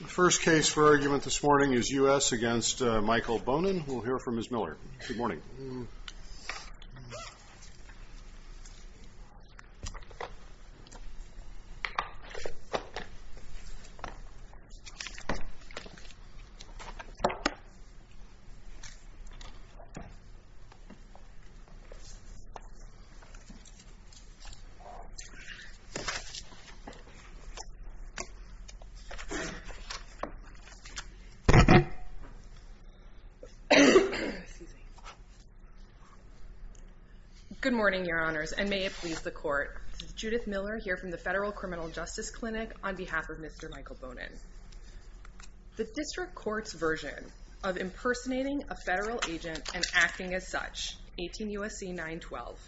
The first case for argument this morning is U.S. v. Michael Bonin. We'll hear from Ms. Miller. Good morning. Good morning, Your Honors, and may it please the Court. This is Judith Miller here from the Federal Criminal Justice Clinic on behalf of Mr. Michael Bonin. The District Court's version of impersonating a federal agent and acting as such, 18 U.S.C. 912,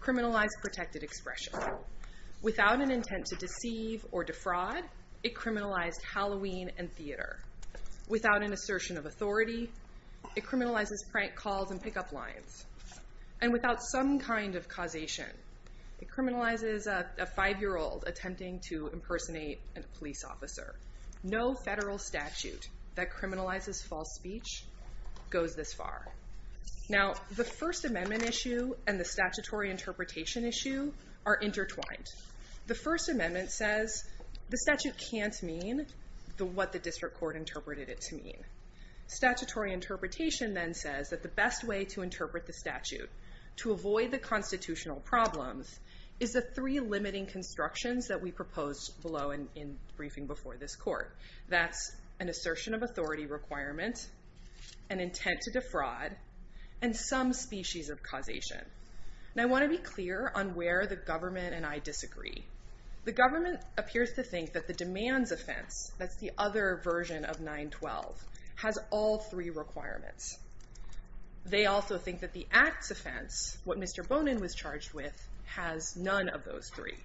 criminalized protected expression. Without an intent to deceive or defraud, it criminalized Halloween and theater. Without an assertion of authority, it criminalizes prank calls and pickup lines. And without some kind of causation, it criminalizes a five-year-old attempting to impersonate a police officer. No federal statute that criminalizes false speech goes this far. Now, the First Amendment issue and the statutory interpretation issue are intertwined. The First Amendment says the statute can't mean what the District Court interpreted it to mean. Statutory interpretation then says that the best way to interpret the statute to avoid the constitutional problems is the three limiting constructions that we proposed below in briefing before this Court. That's an assertion of authority requirement, an intent to defraud, and some species of causation. Now, I want to be clear on where the government and I disagree. The government appears to think that the demands offense, that's the other version of 912, has all three requirements. They also think that the acts offense, what Mr. Bonin was charged with, has none of those three.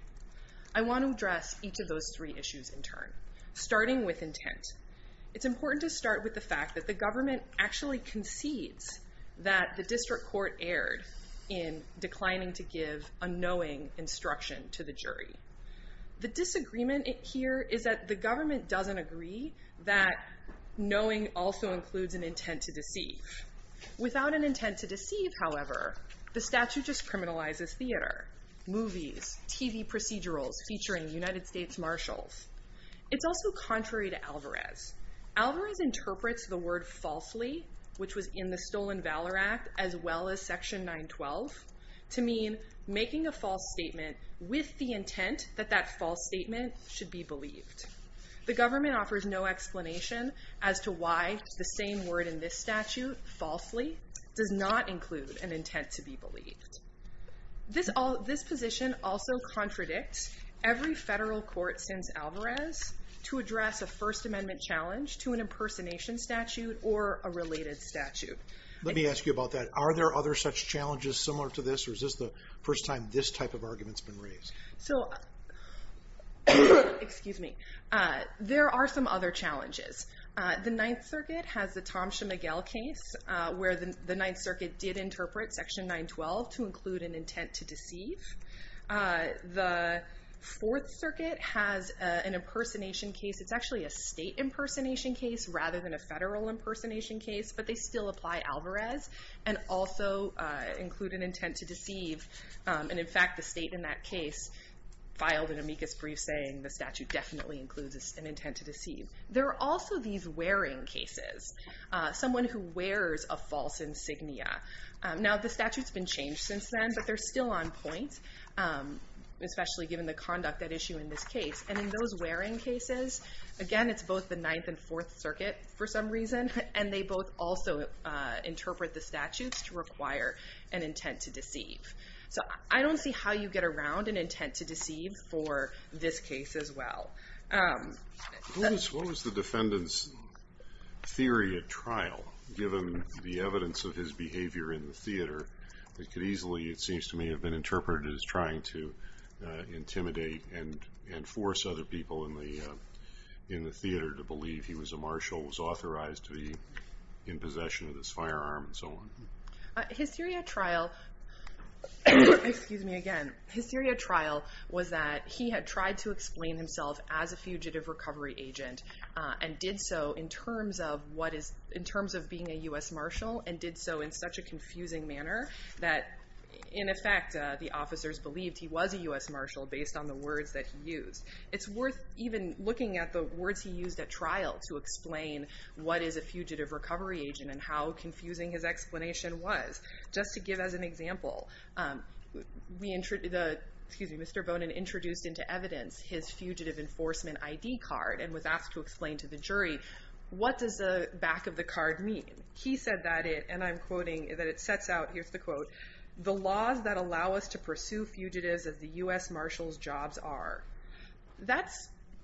I want to address each of those three issues in turn, starting with intent. It's important to start with the fact that the government actually concedes that the District Court erred in declining to give a knowing instruction to the jury. The disagreement here is that the government doesn't agree that knowing also includes an intent to deceive. Without an intent to deceive, however, the statute just criminalizes theater, movies, TV procedurals featuring United States marshals. It's also contrary to Alvarez. Alvarez interprets the word falsely, which was in the Stolen Valor Act, as well as Section 912, to mean making a false statement with the intent that that false statement should be believed. The government offers no explanation as to why the same word in this statute, falsely, does not include an intent to be believed. This position also contradicts every federal court since Alvarez to address a First Amendment challenge to an impersonation statute or a related statute. Let me ask you about that. Are there other such challenges similar to this, or is this the first time this type of argument has been raised? So, there are some other challenges. The Ninth Circuit has the Thomson-McGill case, where the Ninth Circuit did interpret Section 912 to include an intent to deceive. The Fourth Circuit has an impersonation case. It's actually a state impersonation case rather than a federal impersonation case, but they still apply Alvarez and also include an intent to deceive. And, in fact, the state in that case filed an amicus brief saying the statute definitely includes an intent to deceive. There are also these wearing cases, someone who wears a false insignia. Now, the statute's been changed since then, but they're still on point, especially given the conduct at issue in this case. And in those wearing cases, again, it's both the Ninth and Fourth Circuit for some reason, and they both also interpret the statutes to require an intent to deceive. So, I don't see how you get around an intent to deceive for this case as well. What was the defendant's theory at trial, given the evidence of his behavior in the theater, that could easily, it seems to me, have been interpreted as trying to intimidate and force other people in the theater to believe he was a marshal, was authorized to be in possession of this firearm, and so on? His theory at trial, excuse me again, his theory at trial was that he had tried to explain himself as a fugitive recovery agent and did so in terms of being a U.S. marshal and did so in such a confusing manner that, in effect, the officers believed he was a U.S. marshal based on the words that he used. It's worth even looking at the words he used at trial to explain what is a fugitive recovery agent and how confusing his explanation was. Just to give as an example, Mr. Bonin introduced into evidence his fugitive enforcement ID card and was asked to explain to the jury, what does the back of the card mean? He said that it, and I'm quoting, that it sets out, here's the quote, the laws that allow us to pursue fugitives of the U.S. marshal's jobs are.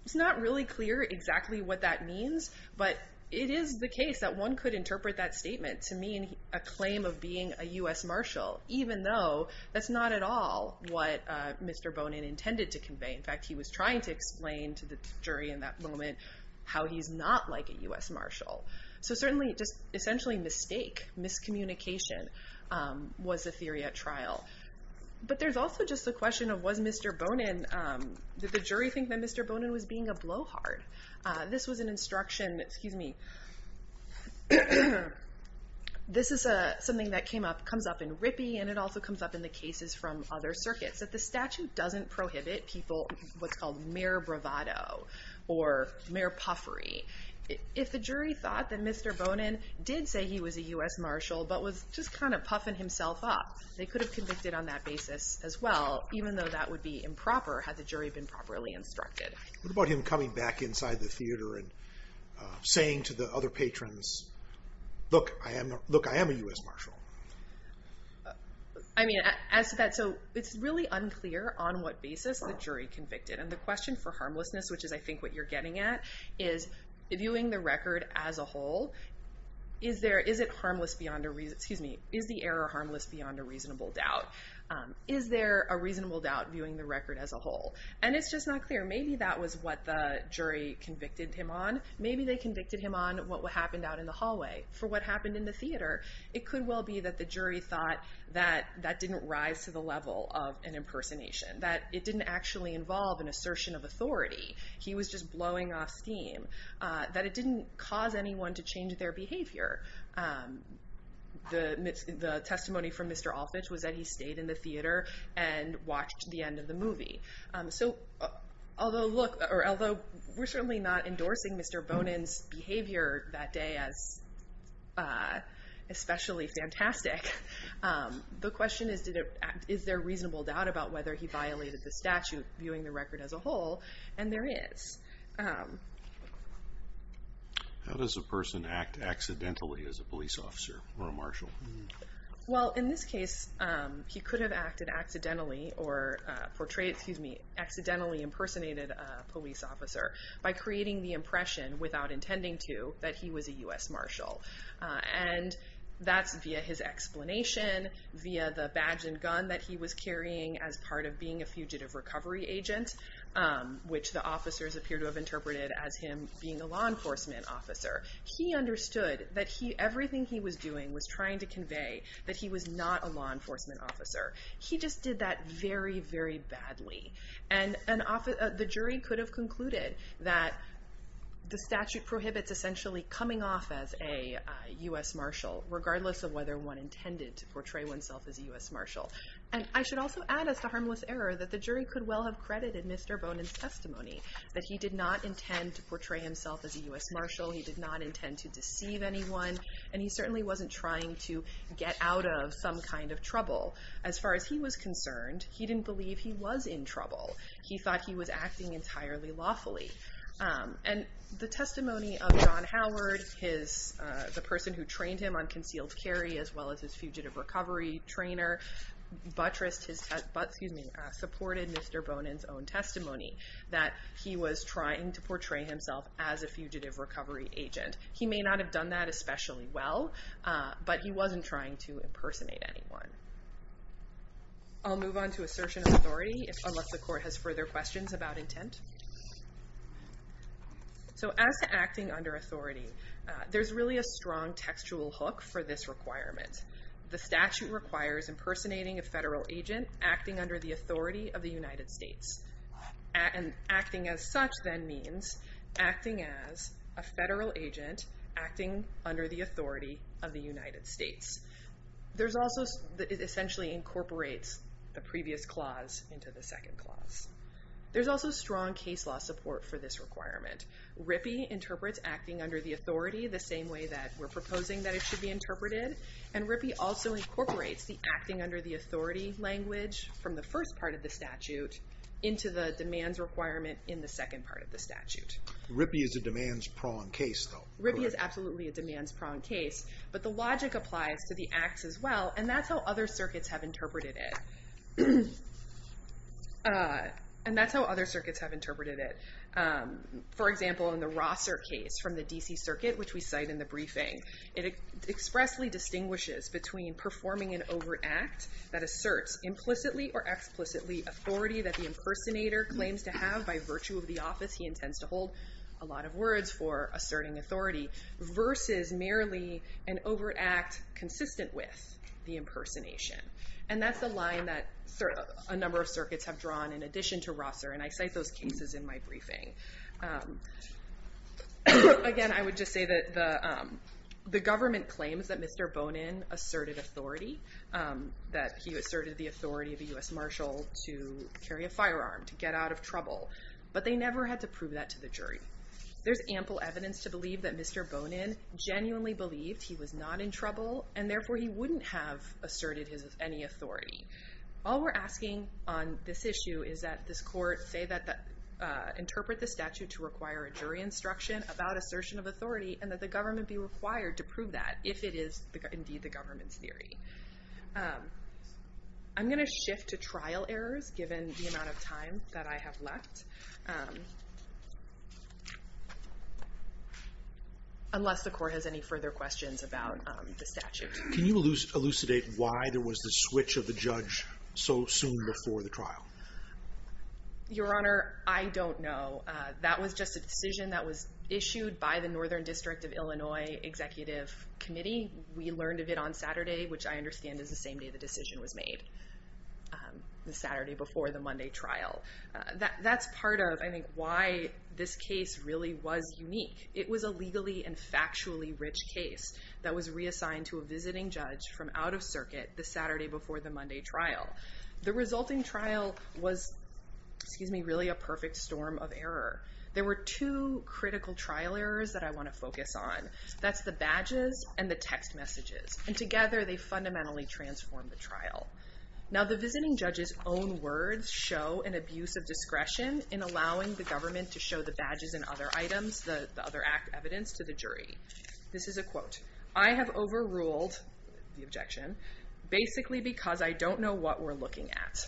It's not really clear exactly what that means, but it is the case that one could interpret that statement to mean a claim of being a U.S. marshal, even though that's not at all what Mr. Bonin intended to convey. In fact, he was trying to explain to the jury in that moment how he's not like a U.S. marshal. So certainly, just essentially mistake, miscommunication was the theory at trial. But there's also just the question of was Mr. Bonin, did the jury think that Mr. Bonin was being a blowhard? This was an instruction, excuse me, this is something that came up, comes up in Rippey and it also comes up in the cases from other circuits, that the statute doesn't prohibit people, what's called mere bravado or mere puffery. If the jury thought that Mr. Bonin did say he was a U.S. marshal, but was just kind of puffing himself up, they could have convicted on that basis as well, even though that would be improper had the jury been properly instructed. What about him coming back inside the theater and saying to the other patrons, look, I am a U.S. marshal? I mean, as to that, so it's really unclear on what basis the jury convicted. And the question for harmlessness, which is I think what you're getting at, is viewing the record as a whole, is it harmless beyond, excuse me, is the error harmless beyond a reasonable doubt? Is there a reasonable doubt viewing the record as a whole? And it's just not clear. Maybe that was what the jury convicted him on. Maybe they convicted him on what happened out in the hallway. For what happened in the theater, it could well be that the jury thought that that didn't rise to the level of an impersonation, he was just blowing off steam, that it didn't cause anyone to change their behavior. The testimony from Mr. Alfitsch was that he stayed in the theater and watched the end of the movie. So although we're certainly not endorsing Mr. Bonin's behavior that day as especially fantastic, the question is, is there a reasonable doubt about whether he violated the statute viewing the record as a whole? And there is. How does a person act accidentally as a police officer or a marshal? Well, in this case, he could have acted accidentally or portrayed, excuse me, accidentally impersonated a police officer by creating the impression without intending to that he was a U.S. marshal. And that's via his explanation, via the badge and gun that he was carrying as part of being a fugitive recovery agent. Which the officers appear to have interpreted as him being a law enforcement officer. He understood that everything he was doing was trying to convey that he was not a law enforcement officer. He just did that very, very badly. And the jury could have concluded that the statute prohibits essentially coming off as a U.S. marshal, regardless of whether one intended to portray oneself as a U.S. marshal. And I should also add, as to harmless error, that the jury could well have credited Mr. Bonin's testimony. That he did not intend to portray himself as a U.S. marshal. He did not intend to deceive anyone. And he certainly wasn't trying to get out of some kind of trouble. As far as he was concerned, he didn't believe he was in trouble. He thought he was acting entirely lawfully. And the testimony of John Howard, the person who trained him on concealed carry, as well as his fugitive recovery trainer, supported Mr. Bonin's own testimony. That he was trying to portray himself as a fugitive recovery agent. He may not have done that especially well, but he wasn't trying to impersonate anyone. I'll move on to assertion of authority, unless the court has further questions about intent. So as to acting under authority, there's really a strong textual hook for this requirement. The statute requires impersonating a federal agent acting under the authority of the United States. And acting as such then means acting as a federal agent acting under the authority of the United States. There's also, it essentially incorporates the previous clause into the second clause. There's also strong case law support for this requirement. RIPI interprets acting under the authority the same way that we're proposing that it should be interpreted. And RIPI also incorporates the acting under the authority language from the first part of the statute into the demands requirement in the second part of the statute. RIPI is a demands prong case though. RIPI is absolutely a demands prong case. But the logic applies to the acts as well. And that's how other circuits have interpreted it. And that's how other circuits have interpreted it. For example, in the Rosser case from the DC circuit, which we cite in the briefing, it expressly distinguishes between performing an overt act that asserts implicitly or explicitly authority that the impersonator claims to have by virtue of the office he intends to hold. A lot of words for asserting authority. Versus merely an overt act consistent with the impersonation. And that's the line that a number of circuits have drawn in addition to Rosser. And I cite those cases in my briefing. Again, I would just say that the government claims that Mr. Bonin asserted authority. That he asserted the authority of a U.S. Marshal to carry a firearm, to get out of trouble. But they never had to prove that to the jury. There's ample evidence to believe that Mr. Bonin genuinely believed he was not in trouble, and therefore he wouldn't have asserted any authority. All we're asking on this issue is that this court interpret the statute to require a jury instruction about assertion of authority, and that the government be required to prove that, if it is indeed the government's theory. I'm going to shift to trial errors, given the amount of time that I have left. Unless the court has any further questions about the statute. Can you elucidate why there was the switch of the judge so soon before the trial? Your Honor, I don't know. That was just a decision that was issued by the Northern District of Illinois Executive Committee. We learned of it on Saturday, which I understand is the same day the decision was made. The Saturday before the Monday trial. That's part of, I think, why this case really was unique. It was a legally and factually rich case that was reassigned to a visiting judge from out of circuit the Saturday before the Monday trial. The resulting trial was, excuse me, really a perfect storm of error. There were two critical trial errors that I want to focus on. That's the badges and the text messages. And together they fundamentally transformed the trial. Now the visiting judge's own words show an abuse of discretion in allowing the government to show the badges and other items, the other evidence, to the jury. This is a quote. I have overruled the objection, basically because I don't know what we're looking at.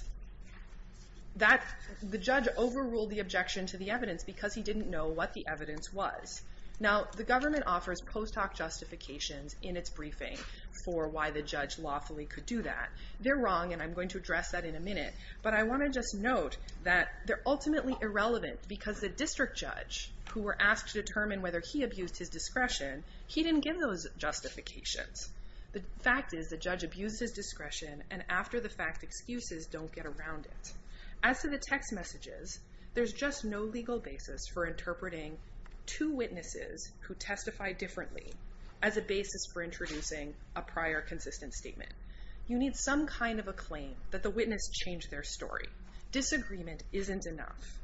The judge overruled the objection to the evidence because he didn't know what the evidence was. Now the government offers post hoc justifications in its briefing for why the judge lawfully could do that. They're wrong, and I'm going to address that in a minute. But I want to just note that they're ultimately irrelevant because the district judge, who were asked to determine whether he abused his discretion, he didn't give those justifications. The fact is the judge abused his discretion, and after the fact, excuses don't get around it. As to the text messages, there's just no legal basis for interpreting two witnesses who testify differently as a basis for introducing a prior consistent statement. You need some kind of a claim that the witness changed their story. Disagreement isn't enough.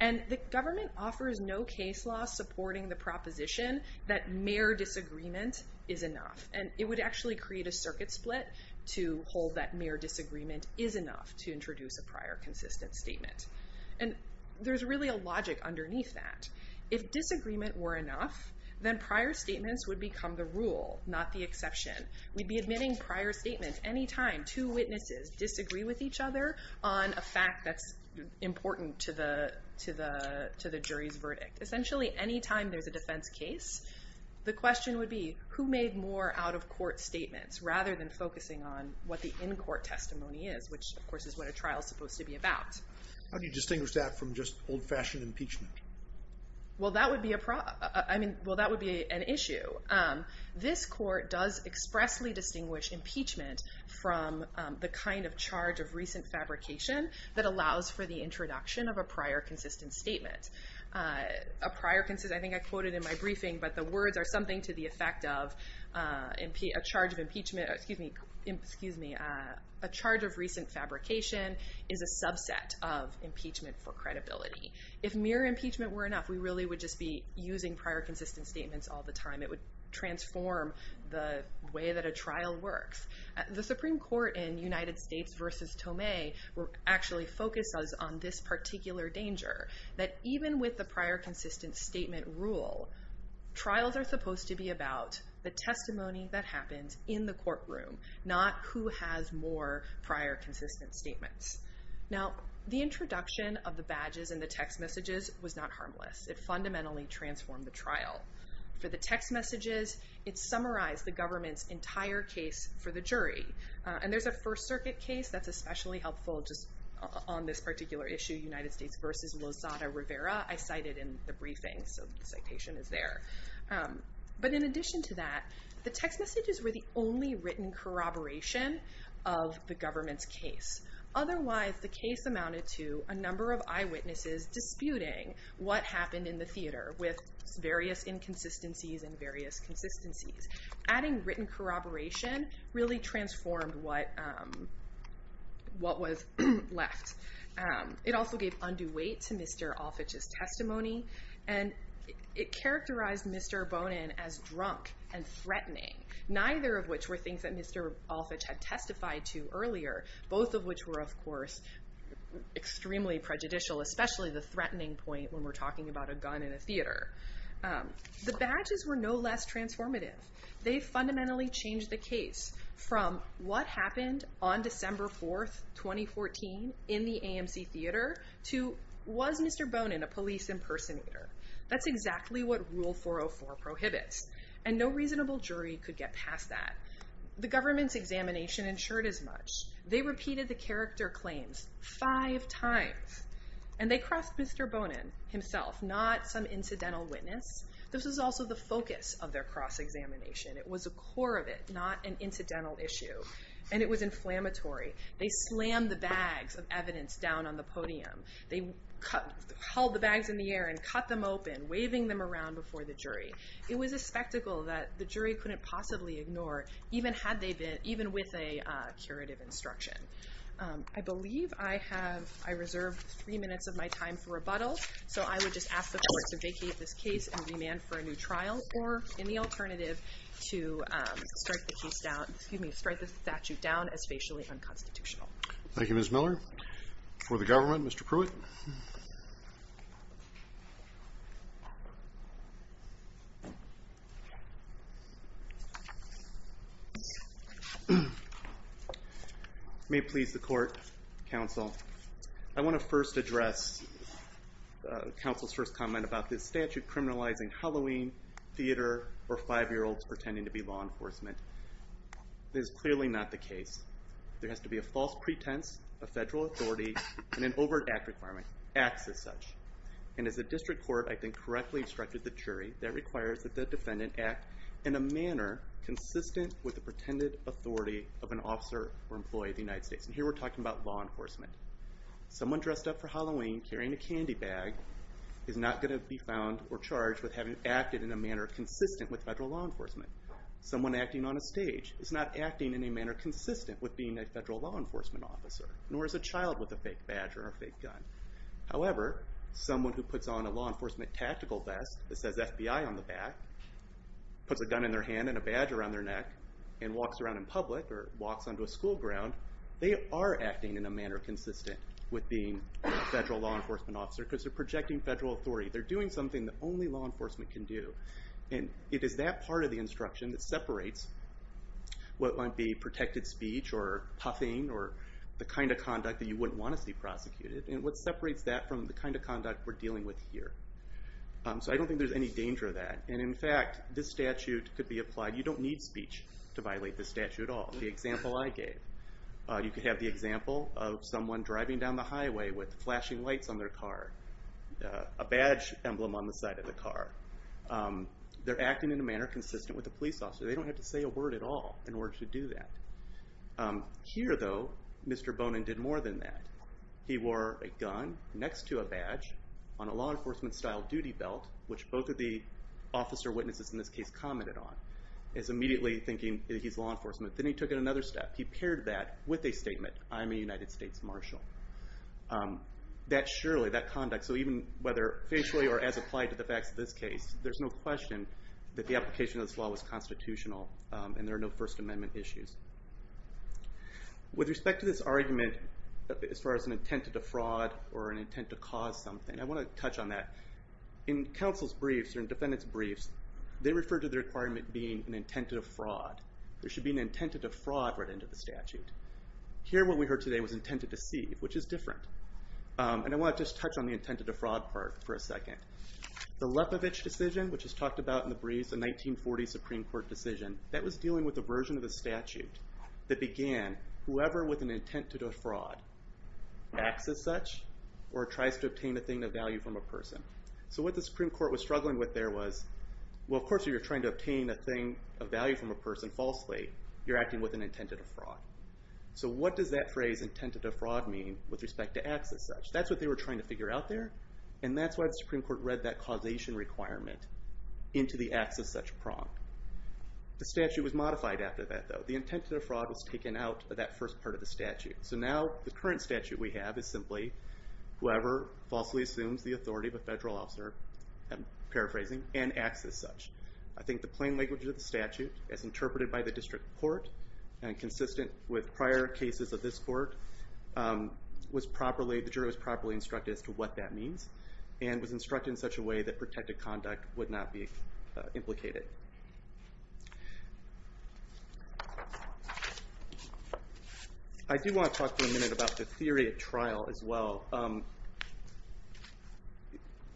And the government offers no case law supporting the proposition that mere disagreement is enough. And it would actually create a circuit split to hold that mere disagreement is enough to introduce a prior consistent statement. And there's really a logic underneath that. If disagreement were enough, then prior statements would become the rule, not the exception. We'd be admitting prior statements any time two witnesses disagree with each other on a fact that's important to the jury's verdict. Essentially, any time there's a defense case, the question would be, who made more out-of-court statements rather than focusing on what the in-court testimony is, which, of course, is what a trial is supposed to be about. How do you distinguish that from just old-fashioned impeachment? Well, that would be an issue. This court does expressly distinguish impeachment from the kind of charge of recent fabrication that allows for the introduction of a prior consistent statement. I think I quoted in my briefing, but the words are something to the effect of a charge of impeachment, excuse me, a charge of recent fabrication is a subset of impeachment for credibility. If mere impeachment were enough, we really would just be using prior consistent statements all the time. It would transform the way that a trial works. The Supreme Court in United States versus Tomei actually focused us on this particular danger, that even with the prior consistent statement rule, trials are supposed to be about the testimony that happens in the courtroom, not who has more prior consistent statements. Now, the introduction of the badges and the text messages was not harmless. It fundamentally transformed the trial. For the text messages, it summarized the government's entire case for the jury. And there's a First Circuit case that's especially helpful just on this particular issue, United States versus Lozada Rivera. I cited in the briefing, so the citation is there. But in addition to that, the text messages were the only written corroboration of the government's case. Otherwise, the case amounted to a number of eyewitnesses disputing what happened in the theater with various inconsistencies and various consistencies. Adding written corroboration really transformed what was left. It also gave undue weight to Mr. Olfitch's testimony, and it characterized Mr. Bonin as drunk and threatening, neither of which were things that Mr. Olfitch had testified to earlier, both of which were, of course, extremely prejudicial, especially the threatening point when we're talking about a gun in a theater. The badges were no less transformative. They fundamentally changed the case from what happened on December 4, 2014, in the AMC Theater, to was Mr. Bonin a police impersonator? That's exactly what Rule 404 prohibits, and no reasonable jury could get past that. The government's examination ensured as much. They repeated the character claims five times, and they crossed Mr. Bonin himself, not some incidental witness. This was also the focus of their cross-examination. It was a core of it, not an incidental issue, and it was inflammatory. They slammed the bags of evidence down on the podium. They hauled the bags in the air and cut them open, waving them around before the jury. It was a spectacle that the jury couldn't possibly ignore, even with a curative instruction. I believe I have reserved three minutes of my time for rebuttal, so I would just ask the court to vacate this case and remand for a new trial or any alternative to strike the statute down as facially unconstitutional. Thank you, Ms. Miller. For the government, Mr. Pruitt. May it please the court, counsel. I want to first address counsel's first comment about this statute criminalizing Halloween, theater, or five-year-olds pretending to be law enforcement. It is clearly not the case. There has to be a false pretense of federal authority and an overt act requirement, acts as such. And as the district court, I think, correctly instructed the jury, that requires that the defendant act in a manner consistent with the pretended authority of an officer or employee of the United States. And here we're talking about law enforcement. Someone dressed up for Halloween carrying a candy bag is not going to be found or charged with having acted in a manner consistent with federal law enforcement. Someone acting on a stage is not acting in a manner consistent with being a federal law enforcement officer, nor is a child with a fake badge or a fake gun. However, someone who puts on a law enforcement tactical vest that says FBI on the back, puts a gun in their hand and a badge around their neck, and walks around in public or walks onto a school ground, they are acting in a manner consistent with being a federal law enforcement officer because they're projecting federal authority. They're doing something that only law enforcement can do. And it is that part of the instruction that separates what might be protected speech or puffing or the kind of conduct that you wouldn't want to see prosecuted, and what separates that from the kind of conduct we're dealing with here. So I don't think there's any danger of that. And in fact, this statute could be applied. You don't need speech to violate this statute at all. The example I gave. You could have the example of someone driving down the highway with flashing lights on their car, a badge emblem on the side of the car. They're acting in a manner consistent with a police officer. They don't have to say a word at all in order to do that. Here, though, Mr. Bonin did more than that. He wore a gun next to a badge on a law enforcement style duty belt, which both of the officer witnesses in this case commented on. It's immediately thinking that he's law enforcement. Then he took it another step. He paired that with a statement, I'm a United States marshal. That surely, that conduct, so even whether facially or as applied to the facts of this case, there's no question that the application of this law was constitutional and there are no First Amendment issues. With respect to this argument as far as an intent to defraud or an intent to cause something, I want to touch on that. In counsel's briefs or in defendant's briefs, they refer to the requirement being an intent to defraud. There should be an intent to defraud written into the statute. Here, what we heard today was intent to deceive, which is different. I want to just touch on the intent to defraud part for a second. The Lepovich decision, which is talked about in the briefs, the 1940 Supreme Court decision, that was dealing with a version of the statute that began whoever with an intent to defraud acts as such or tries to obtain a thing of value from a person. What the Supreme Court was struggling with there was, of course, if you're trying to obtain a thing of value from a person falsely, you're acting with an intent to defraud. What does that phrase, intent to defraud, mean with respect to acts as such? That's what they were trying to figure out there, and that's why the Supreme Court read that causation requirement into the acts as such prong. The statute was modified after that, though. The intent to defraud was taken out of that first part of the statute. Now, the current statute we have is simply whoever falsely assumes the authority of a federal officer, I'm paraphrasing, and acts as such. I think the plain language of the statute, as interpreted by the district court and consistent with prior cases of this court, the juror was properly instructed as to what that means and was instructed in such a way that protected conduct would not be implicated. I do want to talk for a minute about the theory of trial as well.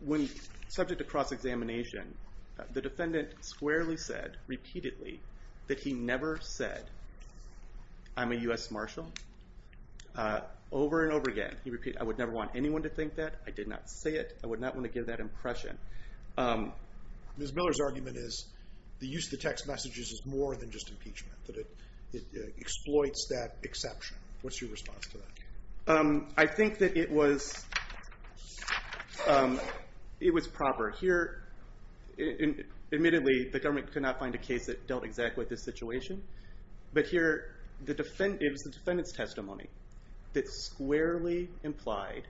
When subject to cross-examination, the defendant squarely said, repeatedly, that he never said, I'm a U.S. Marshal, over and over again. He repeated, I would never want anyone to think that. I did not say it. I would not want to give that impression. Ms. Miller's argument is the use of the text messages is more than just impeachment, that it exploits that exception. What's your response to that? I think that it was proper. Here, admittedly, the government could not find a case that dealt exactly with this situation. But here, it was the defendant's testimony that squarely implied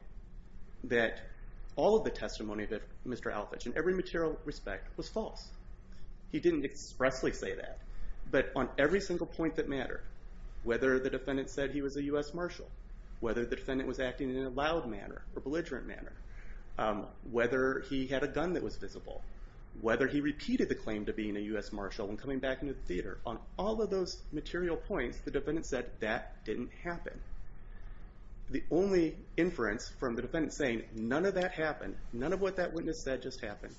that all of the testimony of Mr. Alfitsch, in every material respect, was false. But on every single point that mattered, whether the defendant said he was a U.S. Marshal, whether the defendant was acting in a loud manner or belligerent manner, whether he had a gun that was visible, whether he repeated the claim to being a U.S. Marshal and coming back into the theater, on all of those material points, the defendant said, that didn't happen. The only inference from the defendant saying, none of that happened, none of what that witness said just happened,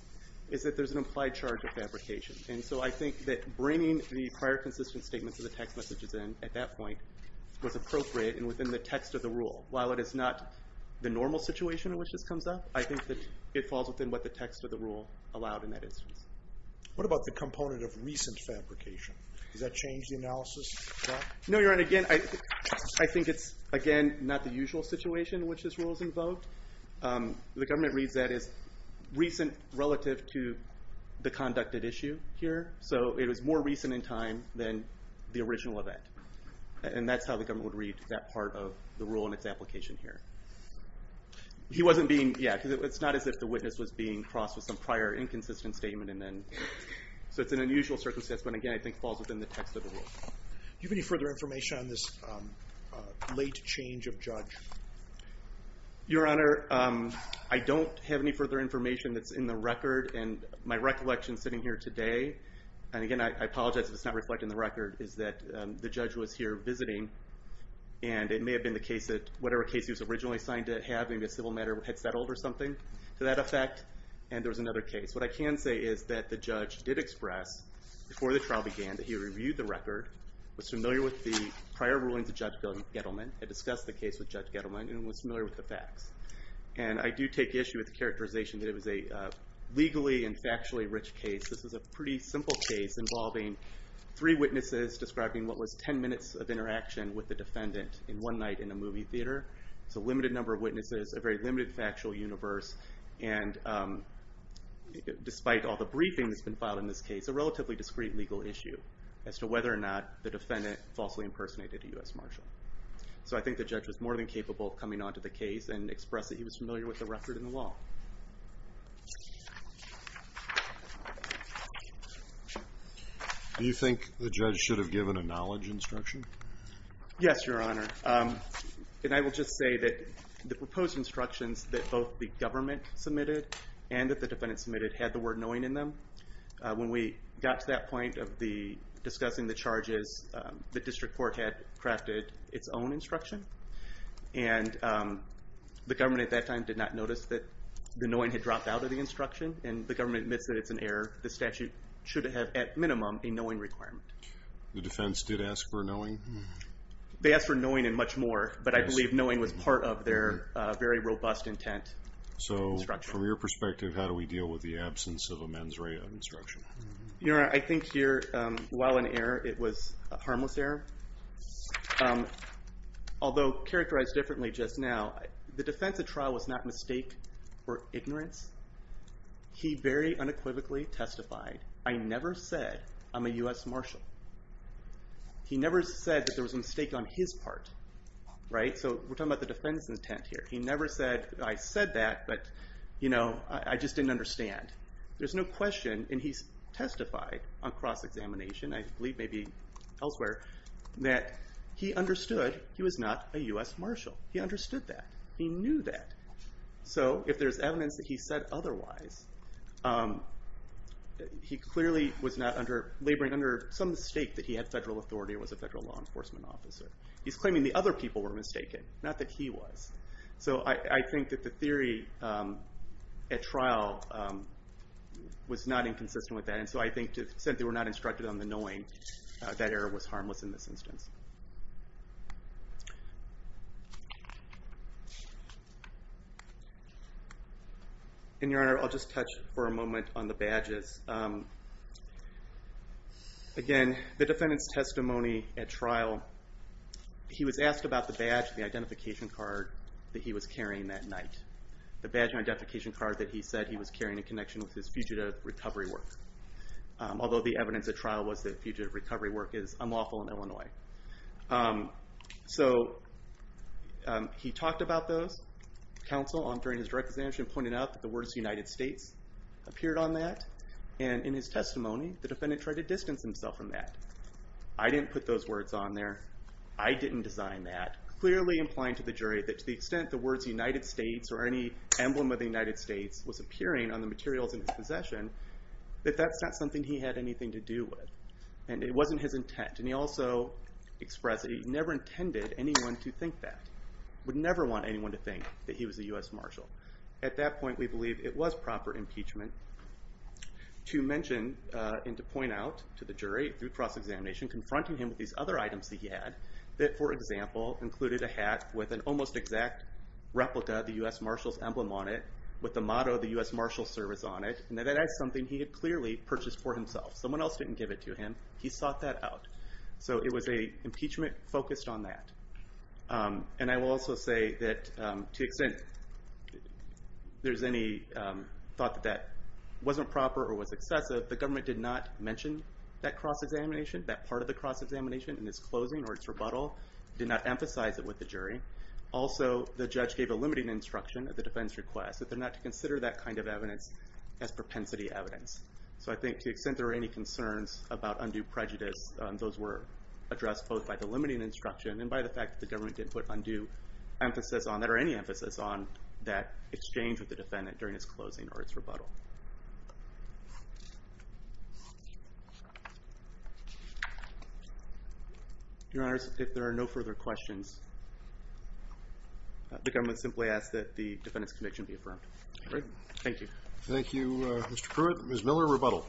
is that there's an implied charge of fabrication. And so I think that bringing the prior consistent statements of the text messages in, at that point, was appropriate and within the text of the rule. While it is not the normal situation in which this comes up, I think that it falls within what the text of the rule allowed in that instance. What about the component of recent fabrication? Does that change the analysis at all? No, Your Honor. Again, I think it's, again, not the usual situation in which this rule is invoked. The government reads that as recent relative to the conducted issue here. So it was more recent in time than the original event. And that's how the government would read that part of the rule and its application here. He wasn't being, yeah, because it's not as if the witness was being crossed with some prior inconsistent statement, and then, so it's an unusual circumstance, but again, I think it falls within the text of the rule. Do you have any further information on this late change of judge? Your Honor, I don't have any further information that's in the record, and my recollection sitting here today and again, I apologize if it's not reflected in the record, is that the judge was here visiting and it may have been the case that whatever case he was originally assigned to have, maybe a civil matter had settled or something to that effect, and there was another case. What I can say is that the judge did express before the trial began that he reviewed the record, was familiar with the prior rulings of Judge Gettleman, had discussed the case with Judge Gettleman, and was familiar with the facts. And I do take issue with the characterization that it was a legally and factually rich case. This was a pretty simple case involving three witnesses describing what was 10 minutes of interaction with the defendant in one night in a movie theater. It's a limited number of witnesses, a very limited factual universe, and despite all the briefing that's been filed in this case, a relatively discreet legal issue as to whether or not the defendant falsely impersonated a U.S. Marshal. So I think the judge was more than capable of coming onto the case and expressing he was familiar with the record and the law. Do you think the judge should have given a knowledge instruction? Yes, Your Honor. And I will just say that the proposed instructions that both the government submitted and that the defendant submitted had the word knowing in them. When we got to that point of discussing the charges, the district court had crafted its own instruction, and the government at that time did not notice that the knowing had dropped out of the instruction, and the government admits that it's an error. The statute should have, at minimum, a knowing requirement. The defense did ask for knowing? They asked for knowing and much more, but I believe knowing was part of their very robust intent instruction. So from your perspective, how do we deal with the absence of a mens rea instruction? Your Honor, I think here, while an error, it was a harmless error. Although characterized differently just now, the defense at trial was not mistake for ignorance. He very unequivocally testified, I never said I'm a U.S. Marshal. He never said that there was a mistake on his part. So we're talking about the defendant's intent here. He never said, I said that, but I just didn't understand. There's no question, and he's testified on cross-examination, I believe maybe elsewhere, that he understood he was not a U.S. Marshal. He understood that. He knew that. So if there's evidence that he said otherwise, he clearly was not laboring under some mistake that he had federal authority or was a federal law enforcement officer. He's claiming the other people were mistaken, not that he was. So I think that the theory at trial was not inconsistent with that, and so I think, since they were not instructed on the knowing, that error was harmless in this instance. And, Your Honor, I'll just touch for a moment on the badges. Again, the defendant's testimony at trial, he was asked about the badge, the identification card that he was carrying that night. The badge and identification card that he said he was carrying in connection with his fugitive recovery work, although the evidence at trial was that fugitive recovery work is unlawful in Illinois. So he talked about those. Counsel, during his direct examination, pointed out that the words United States appeared on that, and in his testimony, the defendant tried to distance himself from that. I didn't put those words on there. I didn't design that, clearly implying to the jury that to the extent the words United States or any emblem of the United States was appearing on the materials in his possession, that that's not something he had anything to do with, and it wasn't his intent. And he also expressed that he never intended anyone to think that, would never want anyone to think that he was a U.S. Marshal. At that point, we believe it was proper impeachment to mention and to point out to the jury, through cross-examination, confronting him with these other items that he had, that, for example, included a hat with an almost exact replica of the U.S. Marshal's emblem on it, with the motto of the U.S. Marshal's Service on it, and that that's something he had clearly purchased for himself. Someone else didn't give it to him. He sought that out. So it was an impeachment focused on that. And I will also say that to the extent there's any thought that that wasn't proper or was excessive, the government did not mention that cross-examination, that part of the cross-examination in its closing or its rebuttal, did not emphasize it with the jury. Also, the judge gave a limiting instruction at the defense request that they're not to consider that kind of evidence as propensity evidence. So I think to the extent there are any concerns about undue prejudice, those were addressed both by the limiting instruction and by the fact that the government didn't put undue emphasis on that or any emphasis on that exchange with the defendant during its closing or its rebuttal. Your Honors, if there are no further questions, the government simply asks that the defendant's conviction be affirmed. Thank you. Thank you, Mr. Pruitt. Ms. Miller, rebuttal.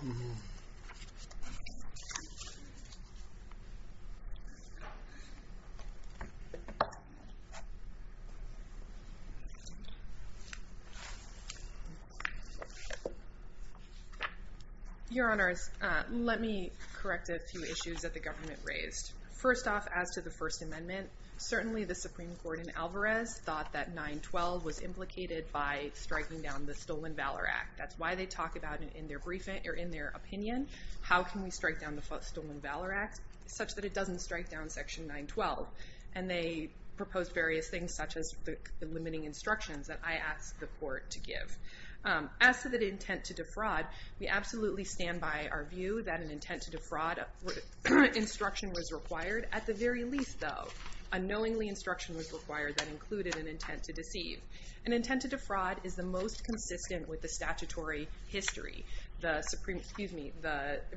Your Honors, let me correct a few issues that the government raised. First off, as to the First Amendment, certainly the Supreme Court in Alvarez thought that 9-12 was implicated by striking down the Stolen Valor Act. That's why they talk about it in their opinion, how can we strike down the Stolen Valor Act, such that it doesn't strike down Section 9-12. And they proposed various things, such as the limiting instructions that I asked the court to give. As to the intent to defraud, we absolutely stand by our view that an intent to defraud instruction was required. At the very least, though, unknowingly instruction was required that included an intent to deceive. An intent to defraud is the most consistent with the statutory history. The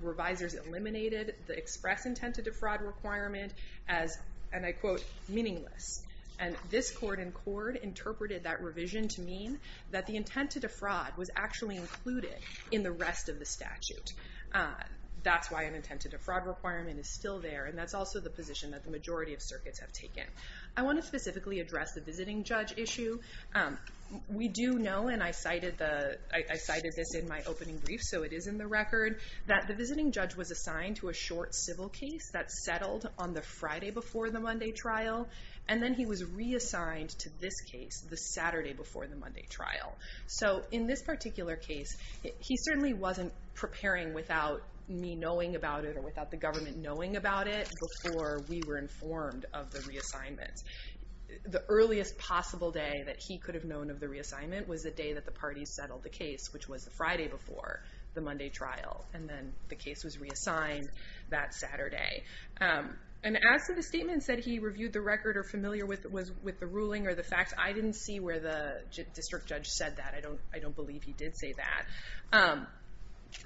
revisors eliminated the express intent to defraud requirement as, and I quote, meaningless. And this court in court interpreted that revision to mean that the intent to defraud was actually included in the rest of the statute. That's why an intent to defraud requirement is still there, and that's also the position that the majority of circuits have taken. I want to specifically address the visiting judge issue. We do know, and I cited this in my opening brief, so it is in the record, that the visiting judge was assigned to a short civil case that settled on the Friday before the Monday trial, and then he was reassigned to this case the Saturday before the Monday trial. So in this particular case, he certainly wasn't preparing without me knowing about it or without the government knowing about it before we were informed of the reassignment. The earliest possible day that he could have known of the reassignment was the day that the parties settled the case, which was the Friday before the Monday trial, and then the case was reassigned that Saturday. And as for the statements that he reviewed the record or familiar with the ruling or the facts, I didn't see where the district judge said that. I don't believe he did say that.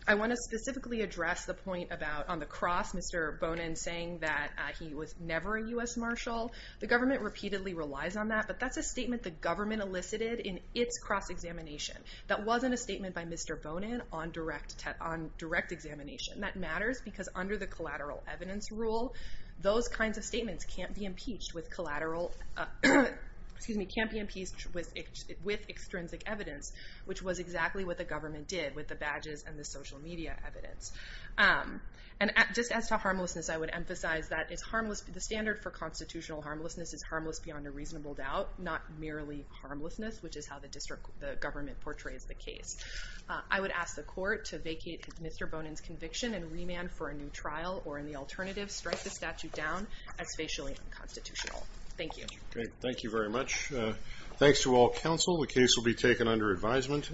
I want to specifically address the point about, on the cross, Mr. Bonin saying that he was never a U.S. marshal. The government repeatedly relies on that, but that's a statement the government elicited in its cross-examination. That wasn't a statement by Mr. Bonin on direct examination. That matters because under the collateral evidence rule, those kinds of statements can't be impeached with collateral... Excuse me, can't be impeached with extrinsic evidence, which was exactly what the government did with the badges and the social media evidence. And just as to harmlessness, I would emphasize that the standard for constitutional harmlessness is harmless beyond a reasonable doubt, not merely harmlessness, which is how the government portrays the case. I would ask the court to vacate Mr. Bonin's conviction and remand for a new trial or, in the alternative, strike the statute down as facially unconstitutional. Thank you. Great. Thank you very much. Thanks to all counsel. The case will be taken under advisement.